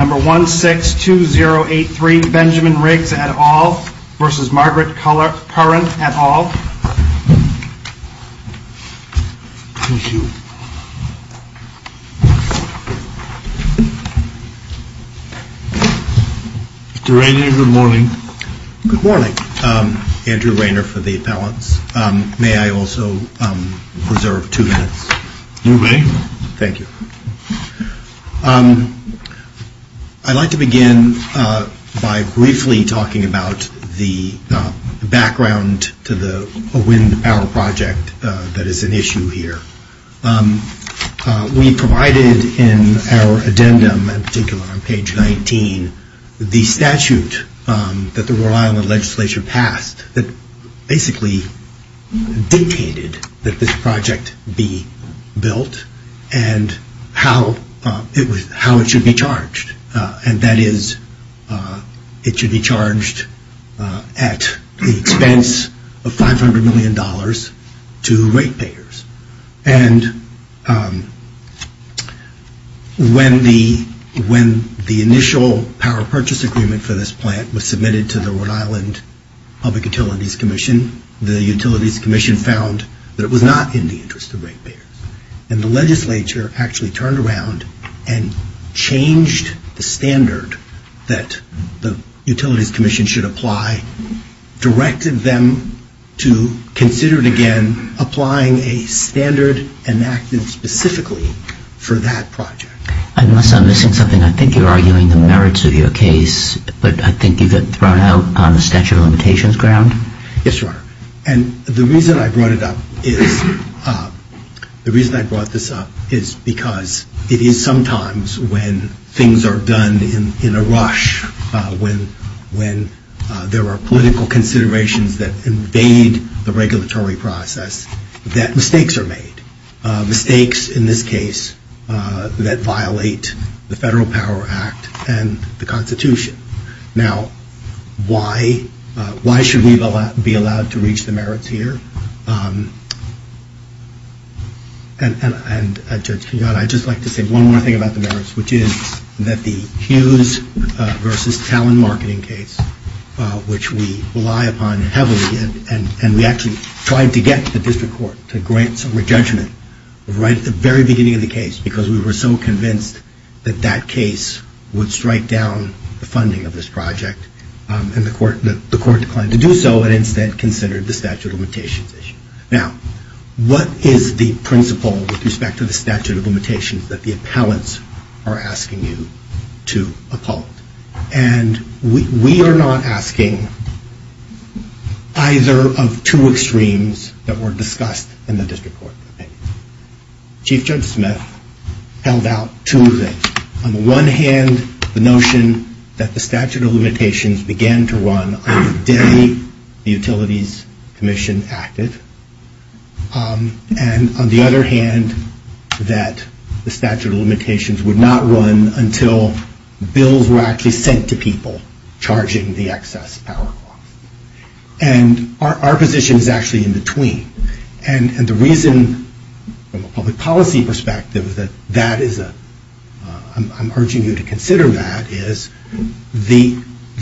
162083 Benjamin Riggs, et al. v. Margaret Curran, et al. Mr. Rainer, good morning. Good morning, Andrew Rainer for the appellants. May I also reserve two minutes? You may. Thank you. I'd like to begin by briefly talking about the background to the Wind Power Project that is an issue here. We provided in our addendum, in particular on page 19, the statute that the Royal Island Legislature passed that basically dictated that this project be built and how it should be charged. And that is it should be charged at the expense of $500 million to rate payers. And when the initial power purchase agreement for this plant was submitted to the Rhode Island Public Utilities Commission, the Utilities Commission found that it was not in the interest of rate payers. And the legislature actually turned around and changed the standard that the Utilities Commission should apply, directed them to consider it again, applying a standard enacted specifically for that project. Unless I'm missing something, I think you're arguing the merits of your case, but I think you've been thrown out on the statute of limitations ground. Yes, Your Honor. And the reason I brought this up is because it is sometimes when things are done in a rush, when there are political considerations that invade the regulatory process, that mistakes are made. Mistakes, in this case, that violate the Federal Power Act and the Constitution. Now, why should we be allowed to reach the merits here? And, Judge Kenyatta, I'd just like to say one more thing about the merits, which is that the Hughes v. Talent Marketing case, which we rely upon heavily, and we actually tried to get the district court to grant some re-judgment right at the very beginning of the case because we were so convinced that that case would strike down the funding of this project, and the court declined to do so and instead considered the statute of limitations issue. Now, what is the principle with respect to the statute of limitations that the appellants are asking you to uphold? And we are not asking either of two extremes that were discussed in the district court. Chief Judge Smith held out two things. On the one hand, the notion that the statute of limitations began to run on the day the Utilities Commission acted. And on the other hand, that the statute of limitations would not run until bills were actually sent to people charging the excess power cost. And our position is actually in between. And the reason, from a public policy perspective, that that is a, I'm urging you to consider that, is the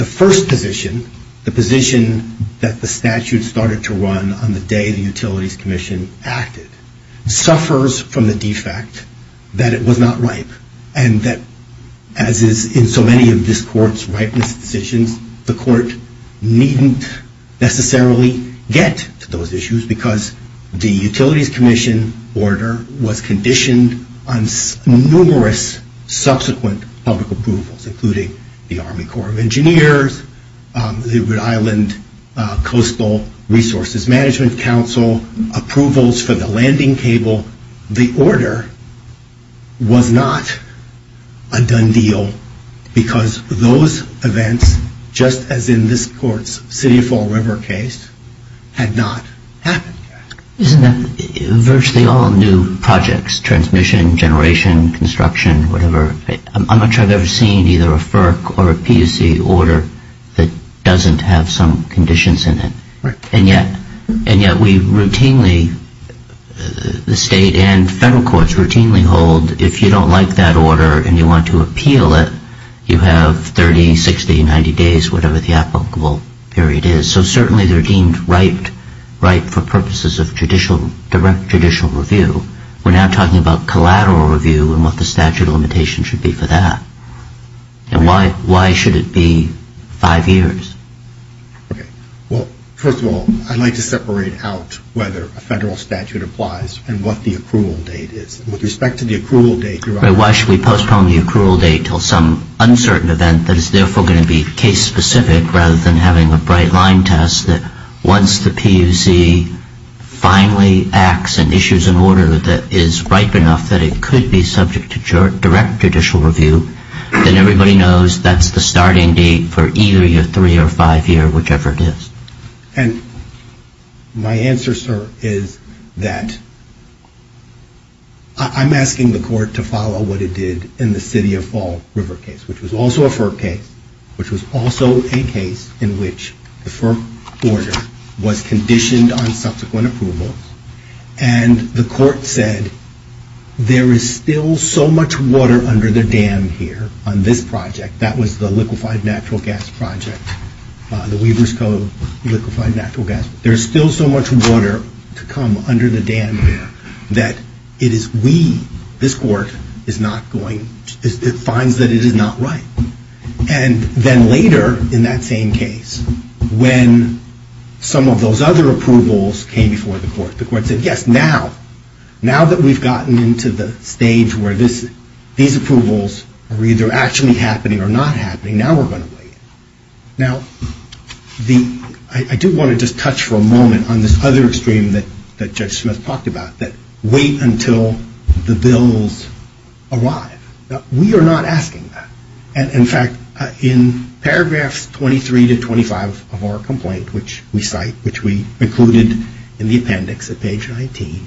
first position, the position that the statute started to run on the day the Utilities Commission acted, suffers from the defect that it was not ripe and that, as is in so many of this court's ripeness decisions, the court needn't necessarily get to those issues because the Utilities Commission order was conditioned on numerous subsequent public approvals, including the Army Corps of Engineers, the Rhode Island Coastal Resources Management Council approvals for the landing cable. So the order was not a done deal because those events, just as in this court's City of Fall River case, had not happened. Isn't that virtually all new projects, transmission, generation, construction, whatever? I'm not sure I've ever seen either a FERC or a PUC order that doesn't have some conditions in it. And yet we routinely, the state and federal courts routinely hold, if you don't like that order and you want to appeal it, you have 30, 60, 90 days, whatever the applicable period is. So certainly they're deemed ripe for purposes of direct judicial review. We're now talking about collateral review and what the statute of limitations should be for that. And why should it be five years? Okay. Well, first of all, I'd like to separate out whether a federal statute applies and what the accrual date is. With respect to the accrual date, you're right. Why should we postpone the accrual date until some uncertain event that is therefore going to be case specific rather than having a bright line test that once the PUC finally acts and issues an order that is ripe enough that it could be subject to direct judicial review, then everybody knows that's the starting date for either your three or five year, whichever it is. And my answer, sir, is that I'm asking the court to follow what it did in the City of Fall River case, which was also a FERC case, which was also a case in which the FERC order was conditioned on subsequent approval. And the court said, there is still so much water under the dam here on this project. That was the liquefied natural gas project, the Weaver's Cove liquefied natural gas. There's still so much water to come under the dam here that it is we, this court, is not going, it finds that it is not right. And then later in that same case, when some of those other approvals came before the court, the court said, yes, now, now that we've gotten into the stage where these approvals are either actually happening or not happening, now we're going to wait. Now, I do want to just touch for a moment on this other extreme that Judge Smith talked about, that wait until the bills arrive. Now, we are not asking that. In fact, in paragraphs 23 to 25 of our complaint, which we cite, which we included in the appendix at page 19,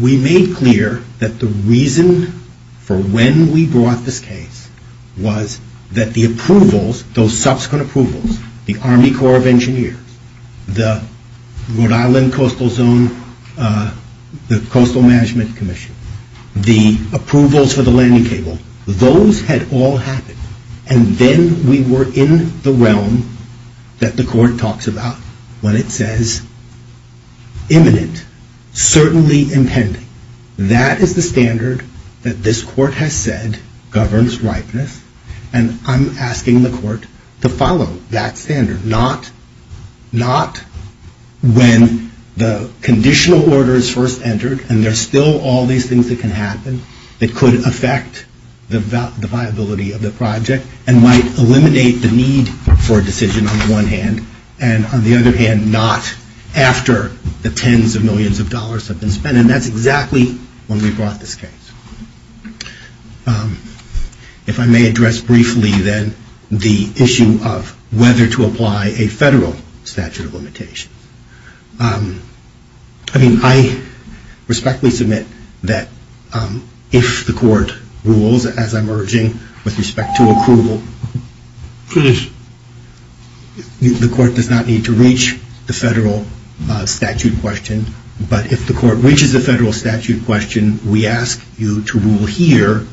we made clear that the reason for when we brought this case was that the approvals, those subsequent approvals, the Army Corps of Engineers, the Rhode Island Coastal Zone, the Coastal Management Commission, the approvals for the landing cable, those had all happened. And then we were in the realm that the court talks about when it says imminent, certainly impending. That is the standard that this court has said governs ripeness. And I'm asking the court to follow that standard, not when the conditional order is first entered and there's still all these things that can happen that could affect the viability of the project and might eliminate the need for a decision on the one hand. And on the other hand, not after the tens of millions of dollars have been spent. And that's exactly when we brought this case. If I may address briefly, then, the issue of whether to apply a federal statute of limitations. I mean, I respectfully submit that if the court rules, as I'm urging, with respect to approval, the court does not need to reach the federal statute question. But if the court reaches a federal statute question, we ask you to rule here,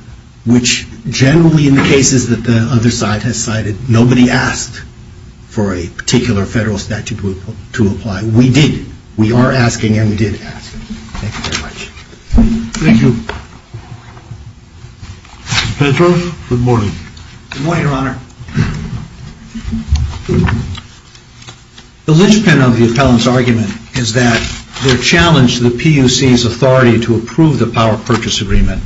which generally in the cases that the other side has cited, nobody asked for a particular federal statute to apply. We did. We are asking and we did ask. Thank you very much. Good morning, Your Honor. The linchpin of the appellant's argument is that their challenge to the PUC's authority to approve the power purchase agreement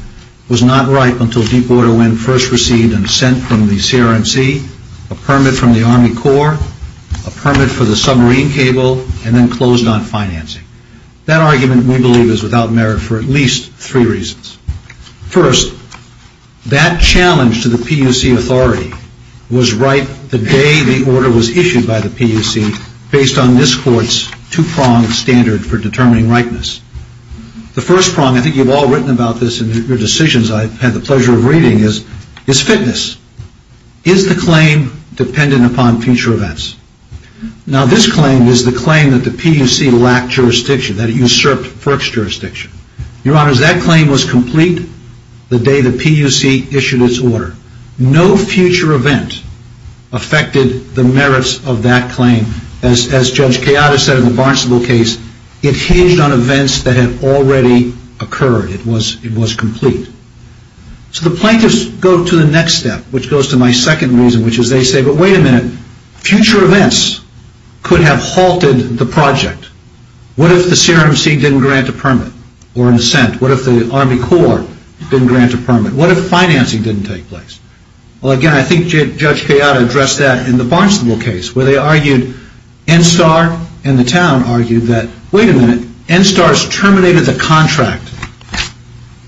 was not ripe until Deepwater Wind first received an assent from the CRMC, a permit from the Army Corps, a permit for the submarine cable, and then closed on financing. That argument, we believe, is without merit for at least three reasons. First, that challenge to the PUC authority was ripe the day the order was issued by the PUC based on this court's two-pronged standard for determining ripeness. The first prong, I think you've all written about this in your decisions I've had the pleasure of reading, is fitness. Is the claim dependent upon future events? Now, this claim is the claim that the PUC lacked jurisdiction, that it usurped FERC's jurisdiction. Your Honor, that claim was complete the day the PUC issued its order. No future event affected the merits of that claim. As Judge Kayada said in the Barnesville case, it hinged on events that had already occurred. It was complete. So the plaintiffs go to the next step, which goes to my second reason, which is they say, but wait a minute, future events could have halted the project. What if the CRMC didn't grant a permit or an assent? What if the Army Corps didn't grant a permit? What if financing didn't take place? Well, again, I think Judge Kayada addressed that in the Barnesville case where they argued NSTAR and the town argued that, wait a minute, NSTAR's terminated the contract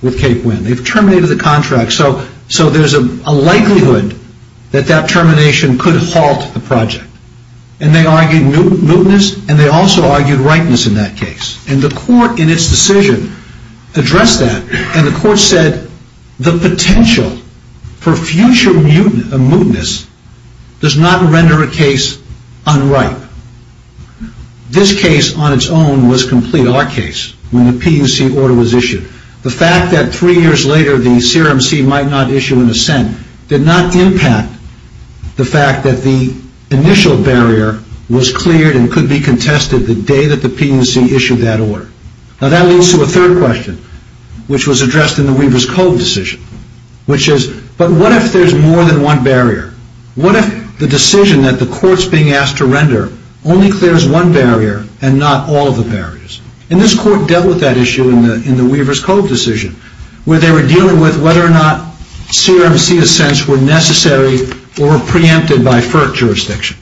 with Cape Wind. They've terminated the contract, so there's a likelihood that that termination could halt the project. And they argued mootness, and they also argued ripeness in that case. And the court in its decision addressed that, and the court said the potential for future mootness does not render a case unripe. This case on its own was complete, our case, when the PUC order was issued. The fact that three years later the CRMC might not issue an assent did not impact the fact that the initial barrier was cleared and could be contested the day that the PUC issued that order. Now that leads to a third question, which was addressed in the Weaver's Cove decision, which is, but what if there's more than one barrier? What if the decision that the court's being asked to render only clears one barrier and not all of the barriers? And this court dealt with that issue in the Weaver's Cove decision, where they were dealing with whether or not CRMC assents were necessary or preempted by FERC jurisdiction.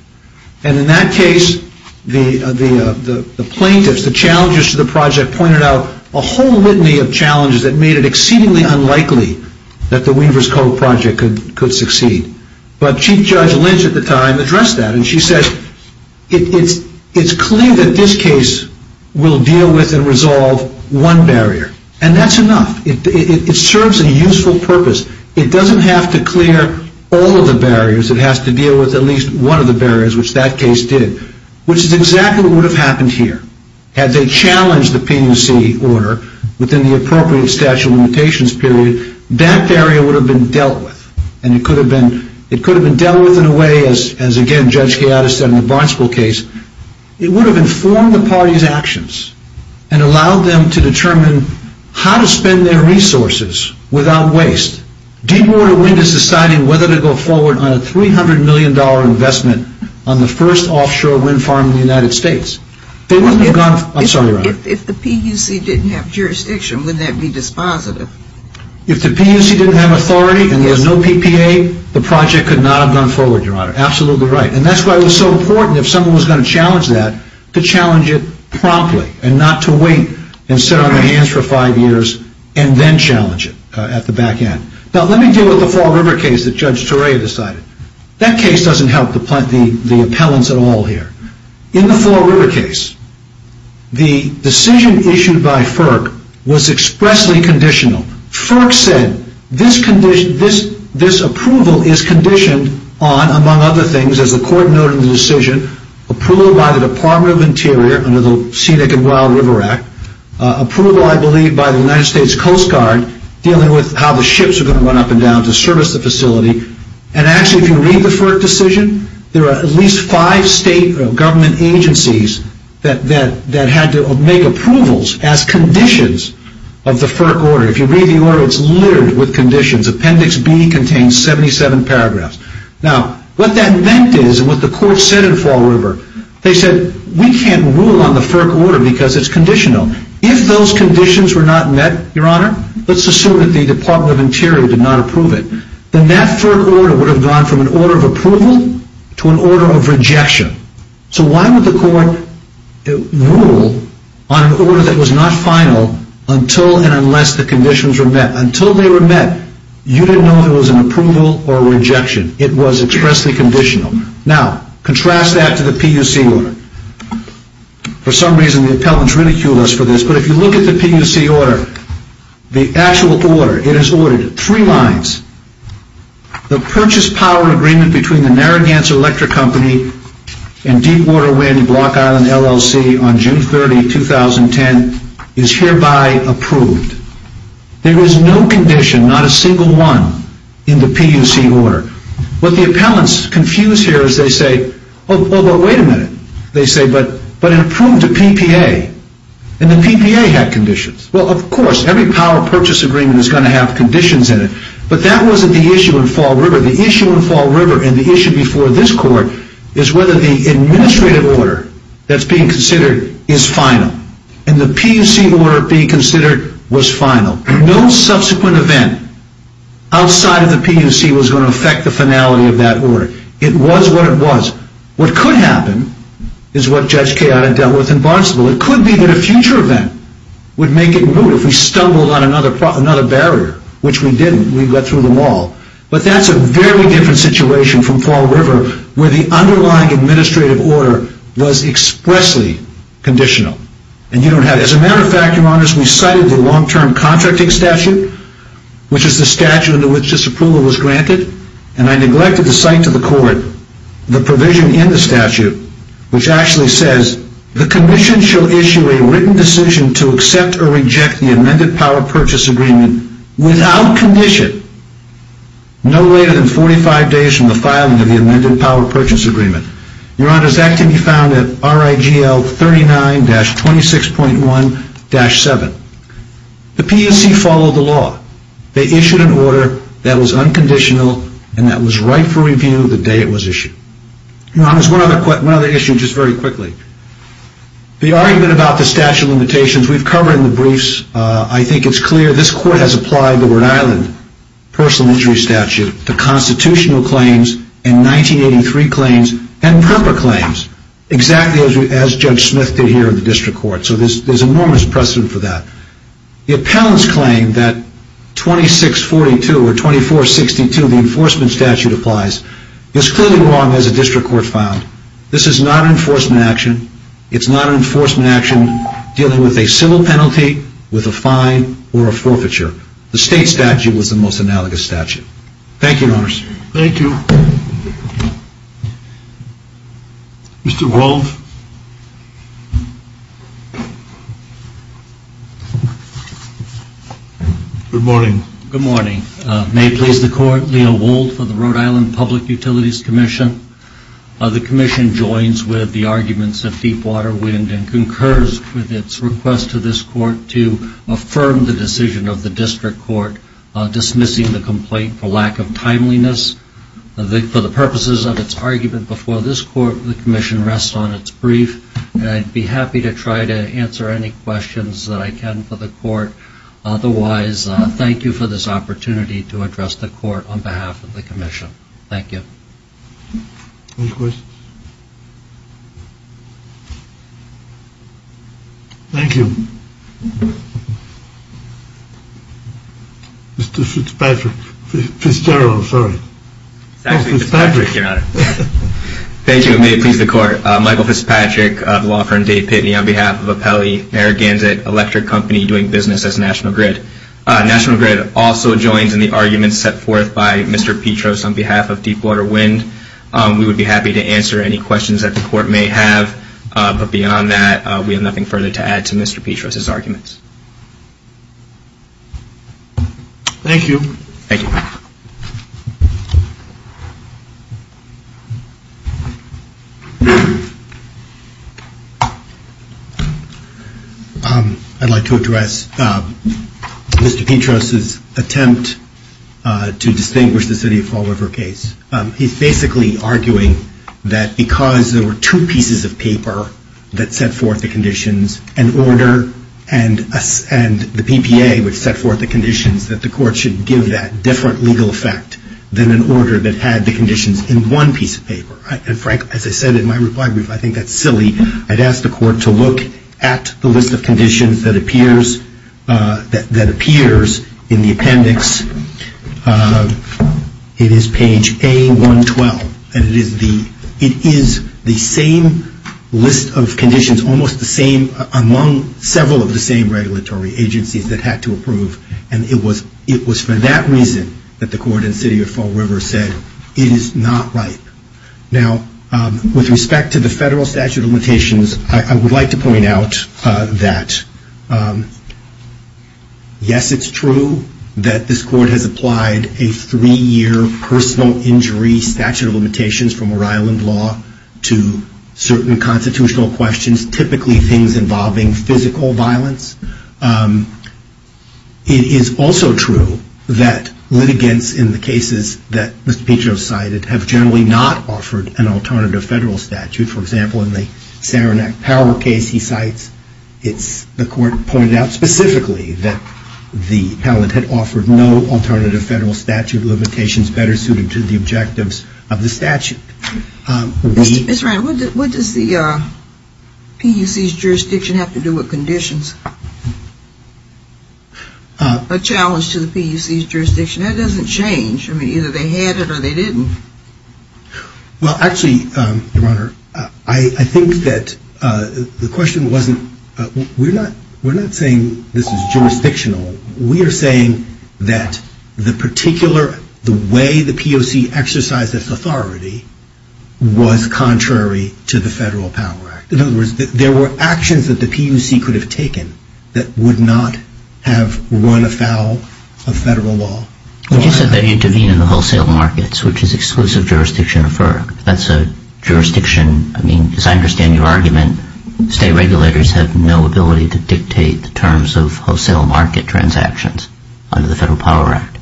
And in that case, the plaintiffs, the challengers to the project, pointed out a whole litany of challenges that made it exceedingly unlikely that the Weaver's Cove project could succeed. But Chief Judge Lynch at the time addressed that, and she said, it's clear that this case will deal with and resolve one barrier, and that's enough. It serves a useful purpose. It doesn't have to clear all of the barriers. It has to deal with at least one of the barriers, which that case did, which is exactly what would have happened here. Had they challenged the PUC order within the appropriate statute of limitations period, that barrier would have been dealt with, and it could have been dealt with in a way, as again Judge Gaiatus said in the Barnesville case, it would have informed the party's actions and allowed them to determine how to spend their resources without waste. Deepwater Wind is deciding whether to go forward on a $300 million investment on the first offshore wind farm in the United States. If the PUC didn't have jurisdiction, wouldn't that be dispositive? If the PUC didn't have authority and there was no PPA, the project could not have gone forward, Your Honor. Absolutely right. And that's why it was so important, if someone was going to challenge that, to challenge it promptly and not to wait and sit on their hands for five years and then challenge it at the back end. Now let me deal with the Fall River case that Judge Torre decided. That case doesn't help the appellants at all here. In the Fall River case, the decision issued by FERC was expressly conditional. FERC said this approval is conditioned on, among other things, as the court noted in the decision, approved by the Department of Interior under the Scenic and Wild River Act, approval, I believe, by the United States Coast Guard dealing with how the ships are going to run up and down to service the facility. And actually, if you read the FERC decision, there are at least five state government agencies that had to make approvals as conditions of the FERC order. If you read the order, it's littered with conditions. Appendix B contains 77 paragraphs. Now, what that meant is, and what the court said in Fall River, they said, we can't rule on the FERC order because it's conditional. If those conditions were not met, Your Honor, let's assume that the Department of Interior did not approve it, then that FERC order would have gone from an order of approval to an order of rejection. So why would the court rule on an order that was not final until and unless the conditions were met? Now, until they were met, you didn't know if it was an approval or a rejection. It was expressly conditional. Now, contrast that to the PUC order. For some reason, the appellants ridiculed us for this, but if you look at the PUC order, the actual order, it is ordered in three lines. The purchase power agreement between the Narragansett Electric Company and Deepwater Wind Block Island LLC on June 30, 2010, is hereby approved. There is no condition, not a single one, in the PUC order. What the appellants confuse here is they say, oh, but wait a minute, they say, but it approved to PPA, and the PPA had conditions. Well, of course, every power purchase agreement is going to have conditions in it, but that wasn't the issue in Fall River. The issue in Fall River and the issue before this court is whether the administrative order that's being considered is final. And the PUC order being considered was final. No subsequent event outside of the PUC was going to affect the finality of that order. It was what it was. What could happen is what Judge Kayotta dealt with in Barnesville. It could be that a future event would make it move. If we stumbled on another barrier, which we didn't, we got through them all. But that's a very different situation from Fall River, where the underlying administrative order was expressly conditional. And you don't have it. As a matter of fact, Your Honors, we cited the long-term contracting statute, which is the statute under which this approval was granted, and I neglected to cite to the court the provision in the statute which actually says the commission shall issue a written decision to accept or reject the amended power purchase agreement without condition no later than 45 days from the filing of the amended power purchase agreement. Your Honors, that can be found at RIGL 39-26.1-7. The PUC followed the law. They issued an order that was unconditional and that was right for review the day it was issued. Your Honors, one other issue, just very quickly. The argument about the statute of limitations we've covered in the briefs. I think it's clear this court has applied the Rhode Island Personal Injury Statute, the constitutional claims, and 1983 claims, and proper claims, exactly as Judge Smith did here in the district court. So there's enormous precedent for that. The appellant's claim that 2642 or 2462, the enforcement statute applies, is clearly wrong as a district court found. This is not an enforcement action. It's not an enforcement action dealing with a civil penalty, with a fine, or a forfeiture. The state statute was the most analogous statute. Thank you, Your Honors. Thank you. Mr. Wald. Good morning. Good morning. May it please the court, Leo Wald for the Rhode Island Public Utilities Commission. The commission joins with the arguments of Deepwater Wind and concurs with its request to this court to affirm the decision of the district court dismissing the complaint for lack of timeliness. For the purposes of its argument before this court, the commission rests on its brief. I'd be happy to try to answer any questions that I can for the court. Otherwise, thank you for this opportunity to address the court on behalf of the commission. Thank you. Any questions? Thank you. Mr. Fitzpatrick. Fitzgerald, sorry. Oh, Fitzpatrick. Your Honor. Thank you. May it please the court. Michael Fitzpatrick of Law Firm Day Pitney on behalf of Apelli, Narragansett Electric Company doing business as National Grid. National Grid also joins in the arguments set forth by Mr. Petros on behalf of Deepwater Wind. We would be happy to answer any questions that the court may have. But beyond that, we have nothing further to add to Mr. Petros' arguments. Thank you. Thank you. I'd like to address Mr. Petros' attempt to distinguish the City of Fall River case. He's basically arguing that because there were two pieces of paper that set forth the conditions, an order and the PPA which set forth the conditions, that the court should give that different legal effect than an order that had the conditions in one piece of paper. And, Frank, as I said in my reply brief, I think that's silly. I'd ask the court to look at the list of conditions that appears in the appendix. It is page A112. And it is the same list of conditions, almost the same among several of the same regulatory agencies that had to approve. And it was for that reason that the court in City of Fall River said, it is not right. Now, with respect to the federal statute of limitations, I would like to point out that, yes, it's true that this court has applied a three-year personal injury statute of limitations from Rhode Island law to certain constitutional questions, typically things involving physical violence. It is also true that litigants in the cases that Mr. Petros cited have generally not offered an alternative federal statute. For example, in the Saranac Power case, he cites, it's the court pointed out specifically that the appellate had offered no alternative federal statute of limitations better suited to the objectives of the statute. Ms. Ryan, what does the PUC's jurisdiction have to do with conditions? A challenge to the PUC's jurisdiction, that doesn't change. I mean, either they had it or they didn't. Well, actually, Your Honor, I think that the question wasn't, we're not saying this is jurisdictional. We are saying that the particular, the way the PUC exercised its authority was contrary to the Federal Power Act. In other words, there were actions that the PUC could have taken that would not have run afoul of federal law. But you said they intervene in the wholesale markets, which is exclusive jurisdiction of FERC. That's a jurisdiction, I mean, as I understand your argument, state regulators have no ability to dictate the terms of wholesale market transactions under the Federal Power Act.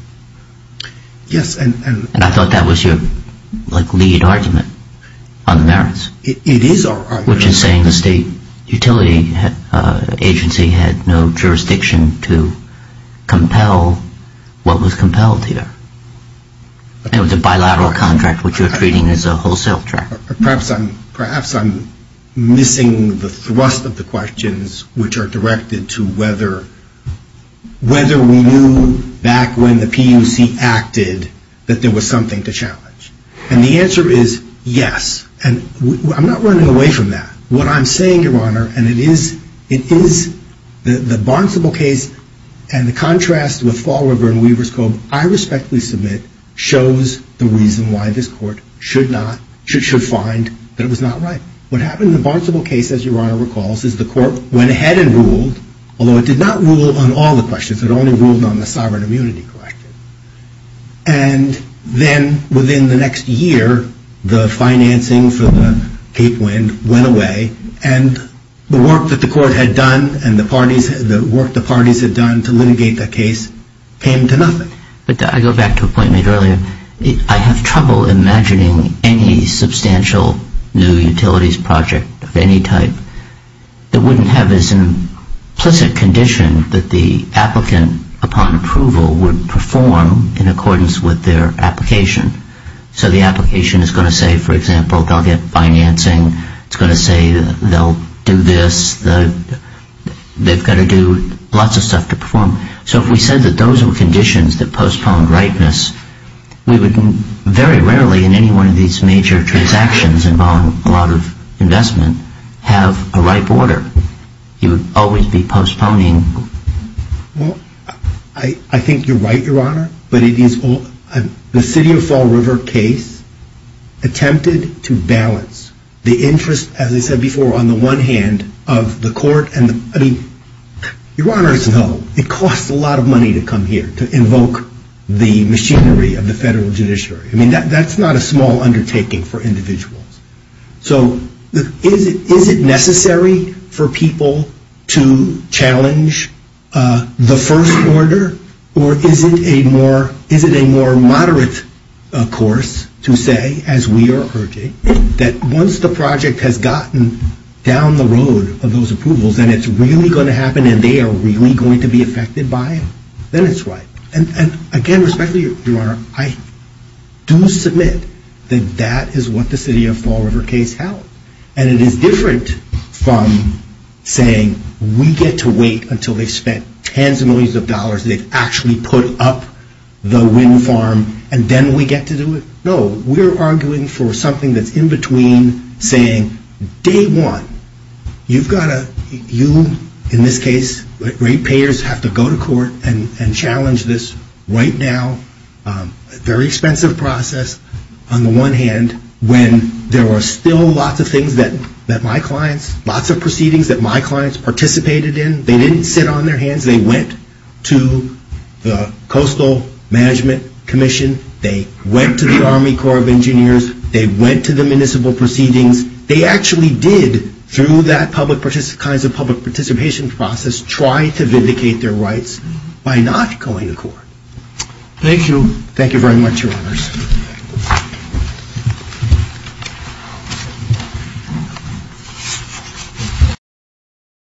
And I thought that was your lead argument on the merits. It is our argument. Which is saying the state utility agency had no jurisdiction to compel what was compelled here. It was a bilateral contract, which you're treating as a wholesale contract. Perhaps I'm missing the thrust of the questions which are directed to whether we knew back when the PUC acted that there was something to challenge. And the answer is yes. And I'm not running away from that. What I'm saying, Your Honor, and it is the Barnesville case and the contrast with Fall River and Weaver's Cove, I respectfully submit, shows the reason why this court should not, should find that it was not right. What happened in the Barnesville case, as Your Honor recalls, is the court went ahead and ruled, which is it only ruled on the sovereign immunity question. And then within the next year, the financing for the Cape Wind went away, and the work that the court had done and the work the parties had done to litigate that case came to nothing. But I go back to a point made earlier. I have trouble imagining any substantial new utilities project of any type that wouldn't have as an implicit condition that the applicant, upon approval, would perform in accordance with their application. So the application is going to say, for example, they'll get financing. It's going to say they'll do this. They've got to do lots of stuff to perform. So if we said that those were conditions that postponed ripeness, we would very rarely in any one of these major transactions involving a lot of investment have a ripe order. You would always be postponing. Well, I think you're right, Your Honor. The City of Fall River case attempted to balance the interest, as I said before, on the one hand of the court. I mean, Your Honor, it costs a lot of money to come here, to invoke the machinery of the federal judiciary. I mean, that's not a small undertaking for individuals. So is it necessary for people to challenge the first order, or is it a more moderate course to say, as we are urging, that once the project has gotten down the road of those approvals, then it's really going to happen and they are really going to be affected by it? Then it's ripe. And again, respectfully, Your Honor, I do submit that that is what the City of Fall River case held. And it is different from saying we get to wait until they've spent tens of millions of dollars, they've actually put up the wind farm, and then we get to do it. No, we're arguing for something that's in between, saying day one, you've got to, you in this case, rate payers have to go to court and challenge this right now. Very expensive process on the one hand, when there are still lots of things that my clients, lots of proceedings that my clients participated in, they didn't sit on their hands, they went to the Coastal Management Commission, they went to the Army Corps of Engineers, they went to the municipal proceedings, they actually did, through that public participation process, try to vindicate their rights by not going to court. Thank you.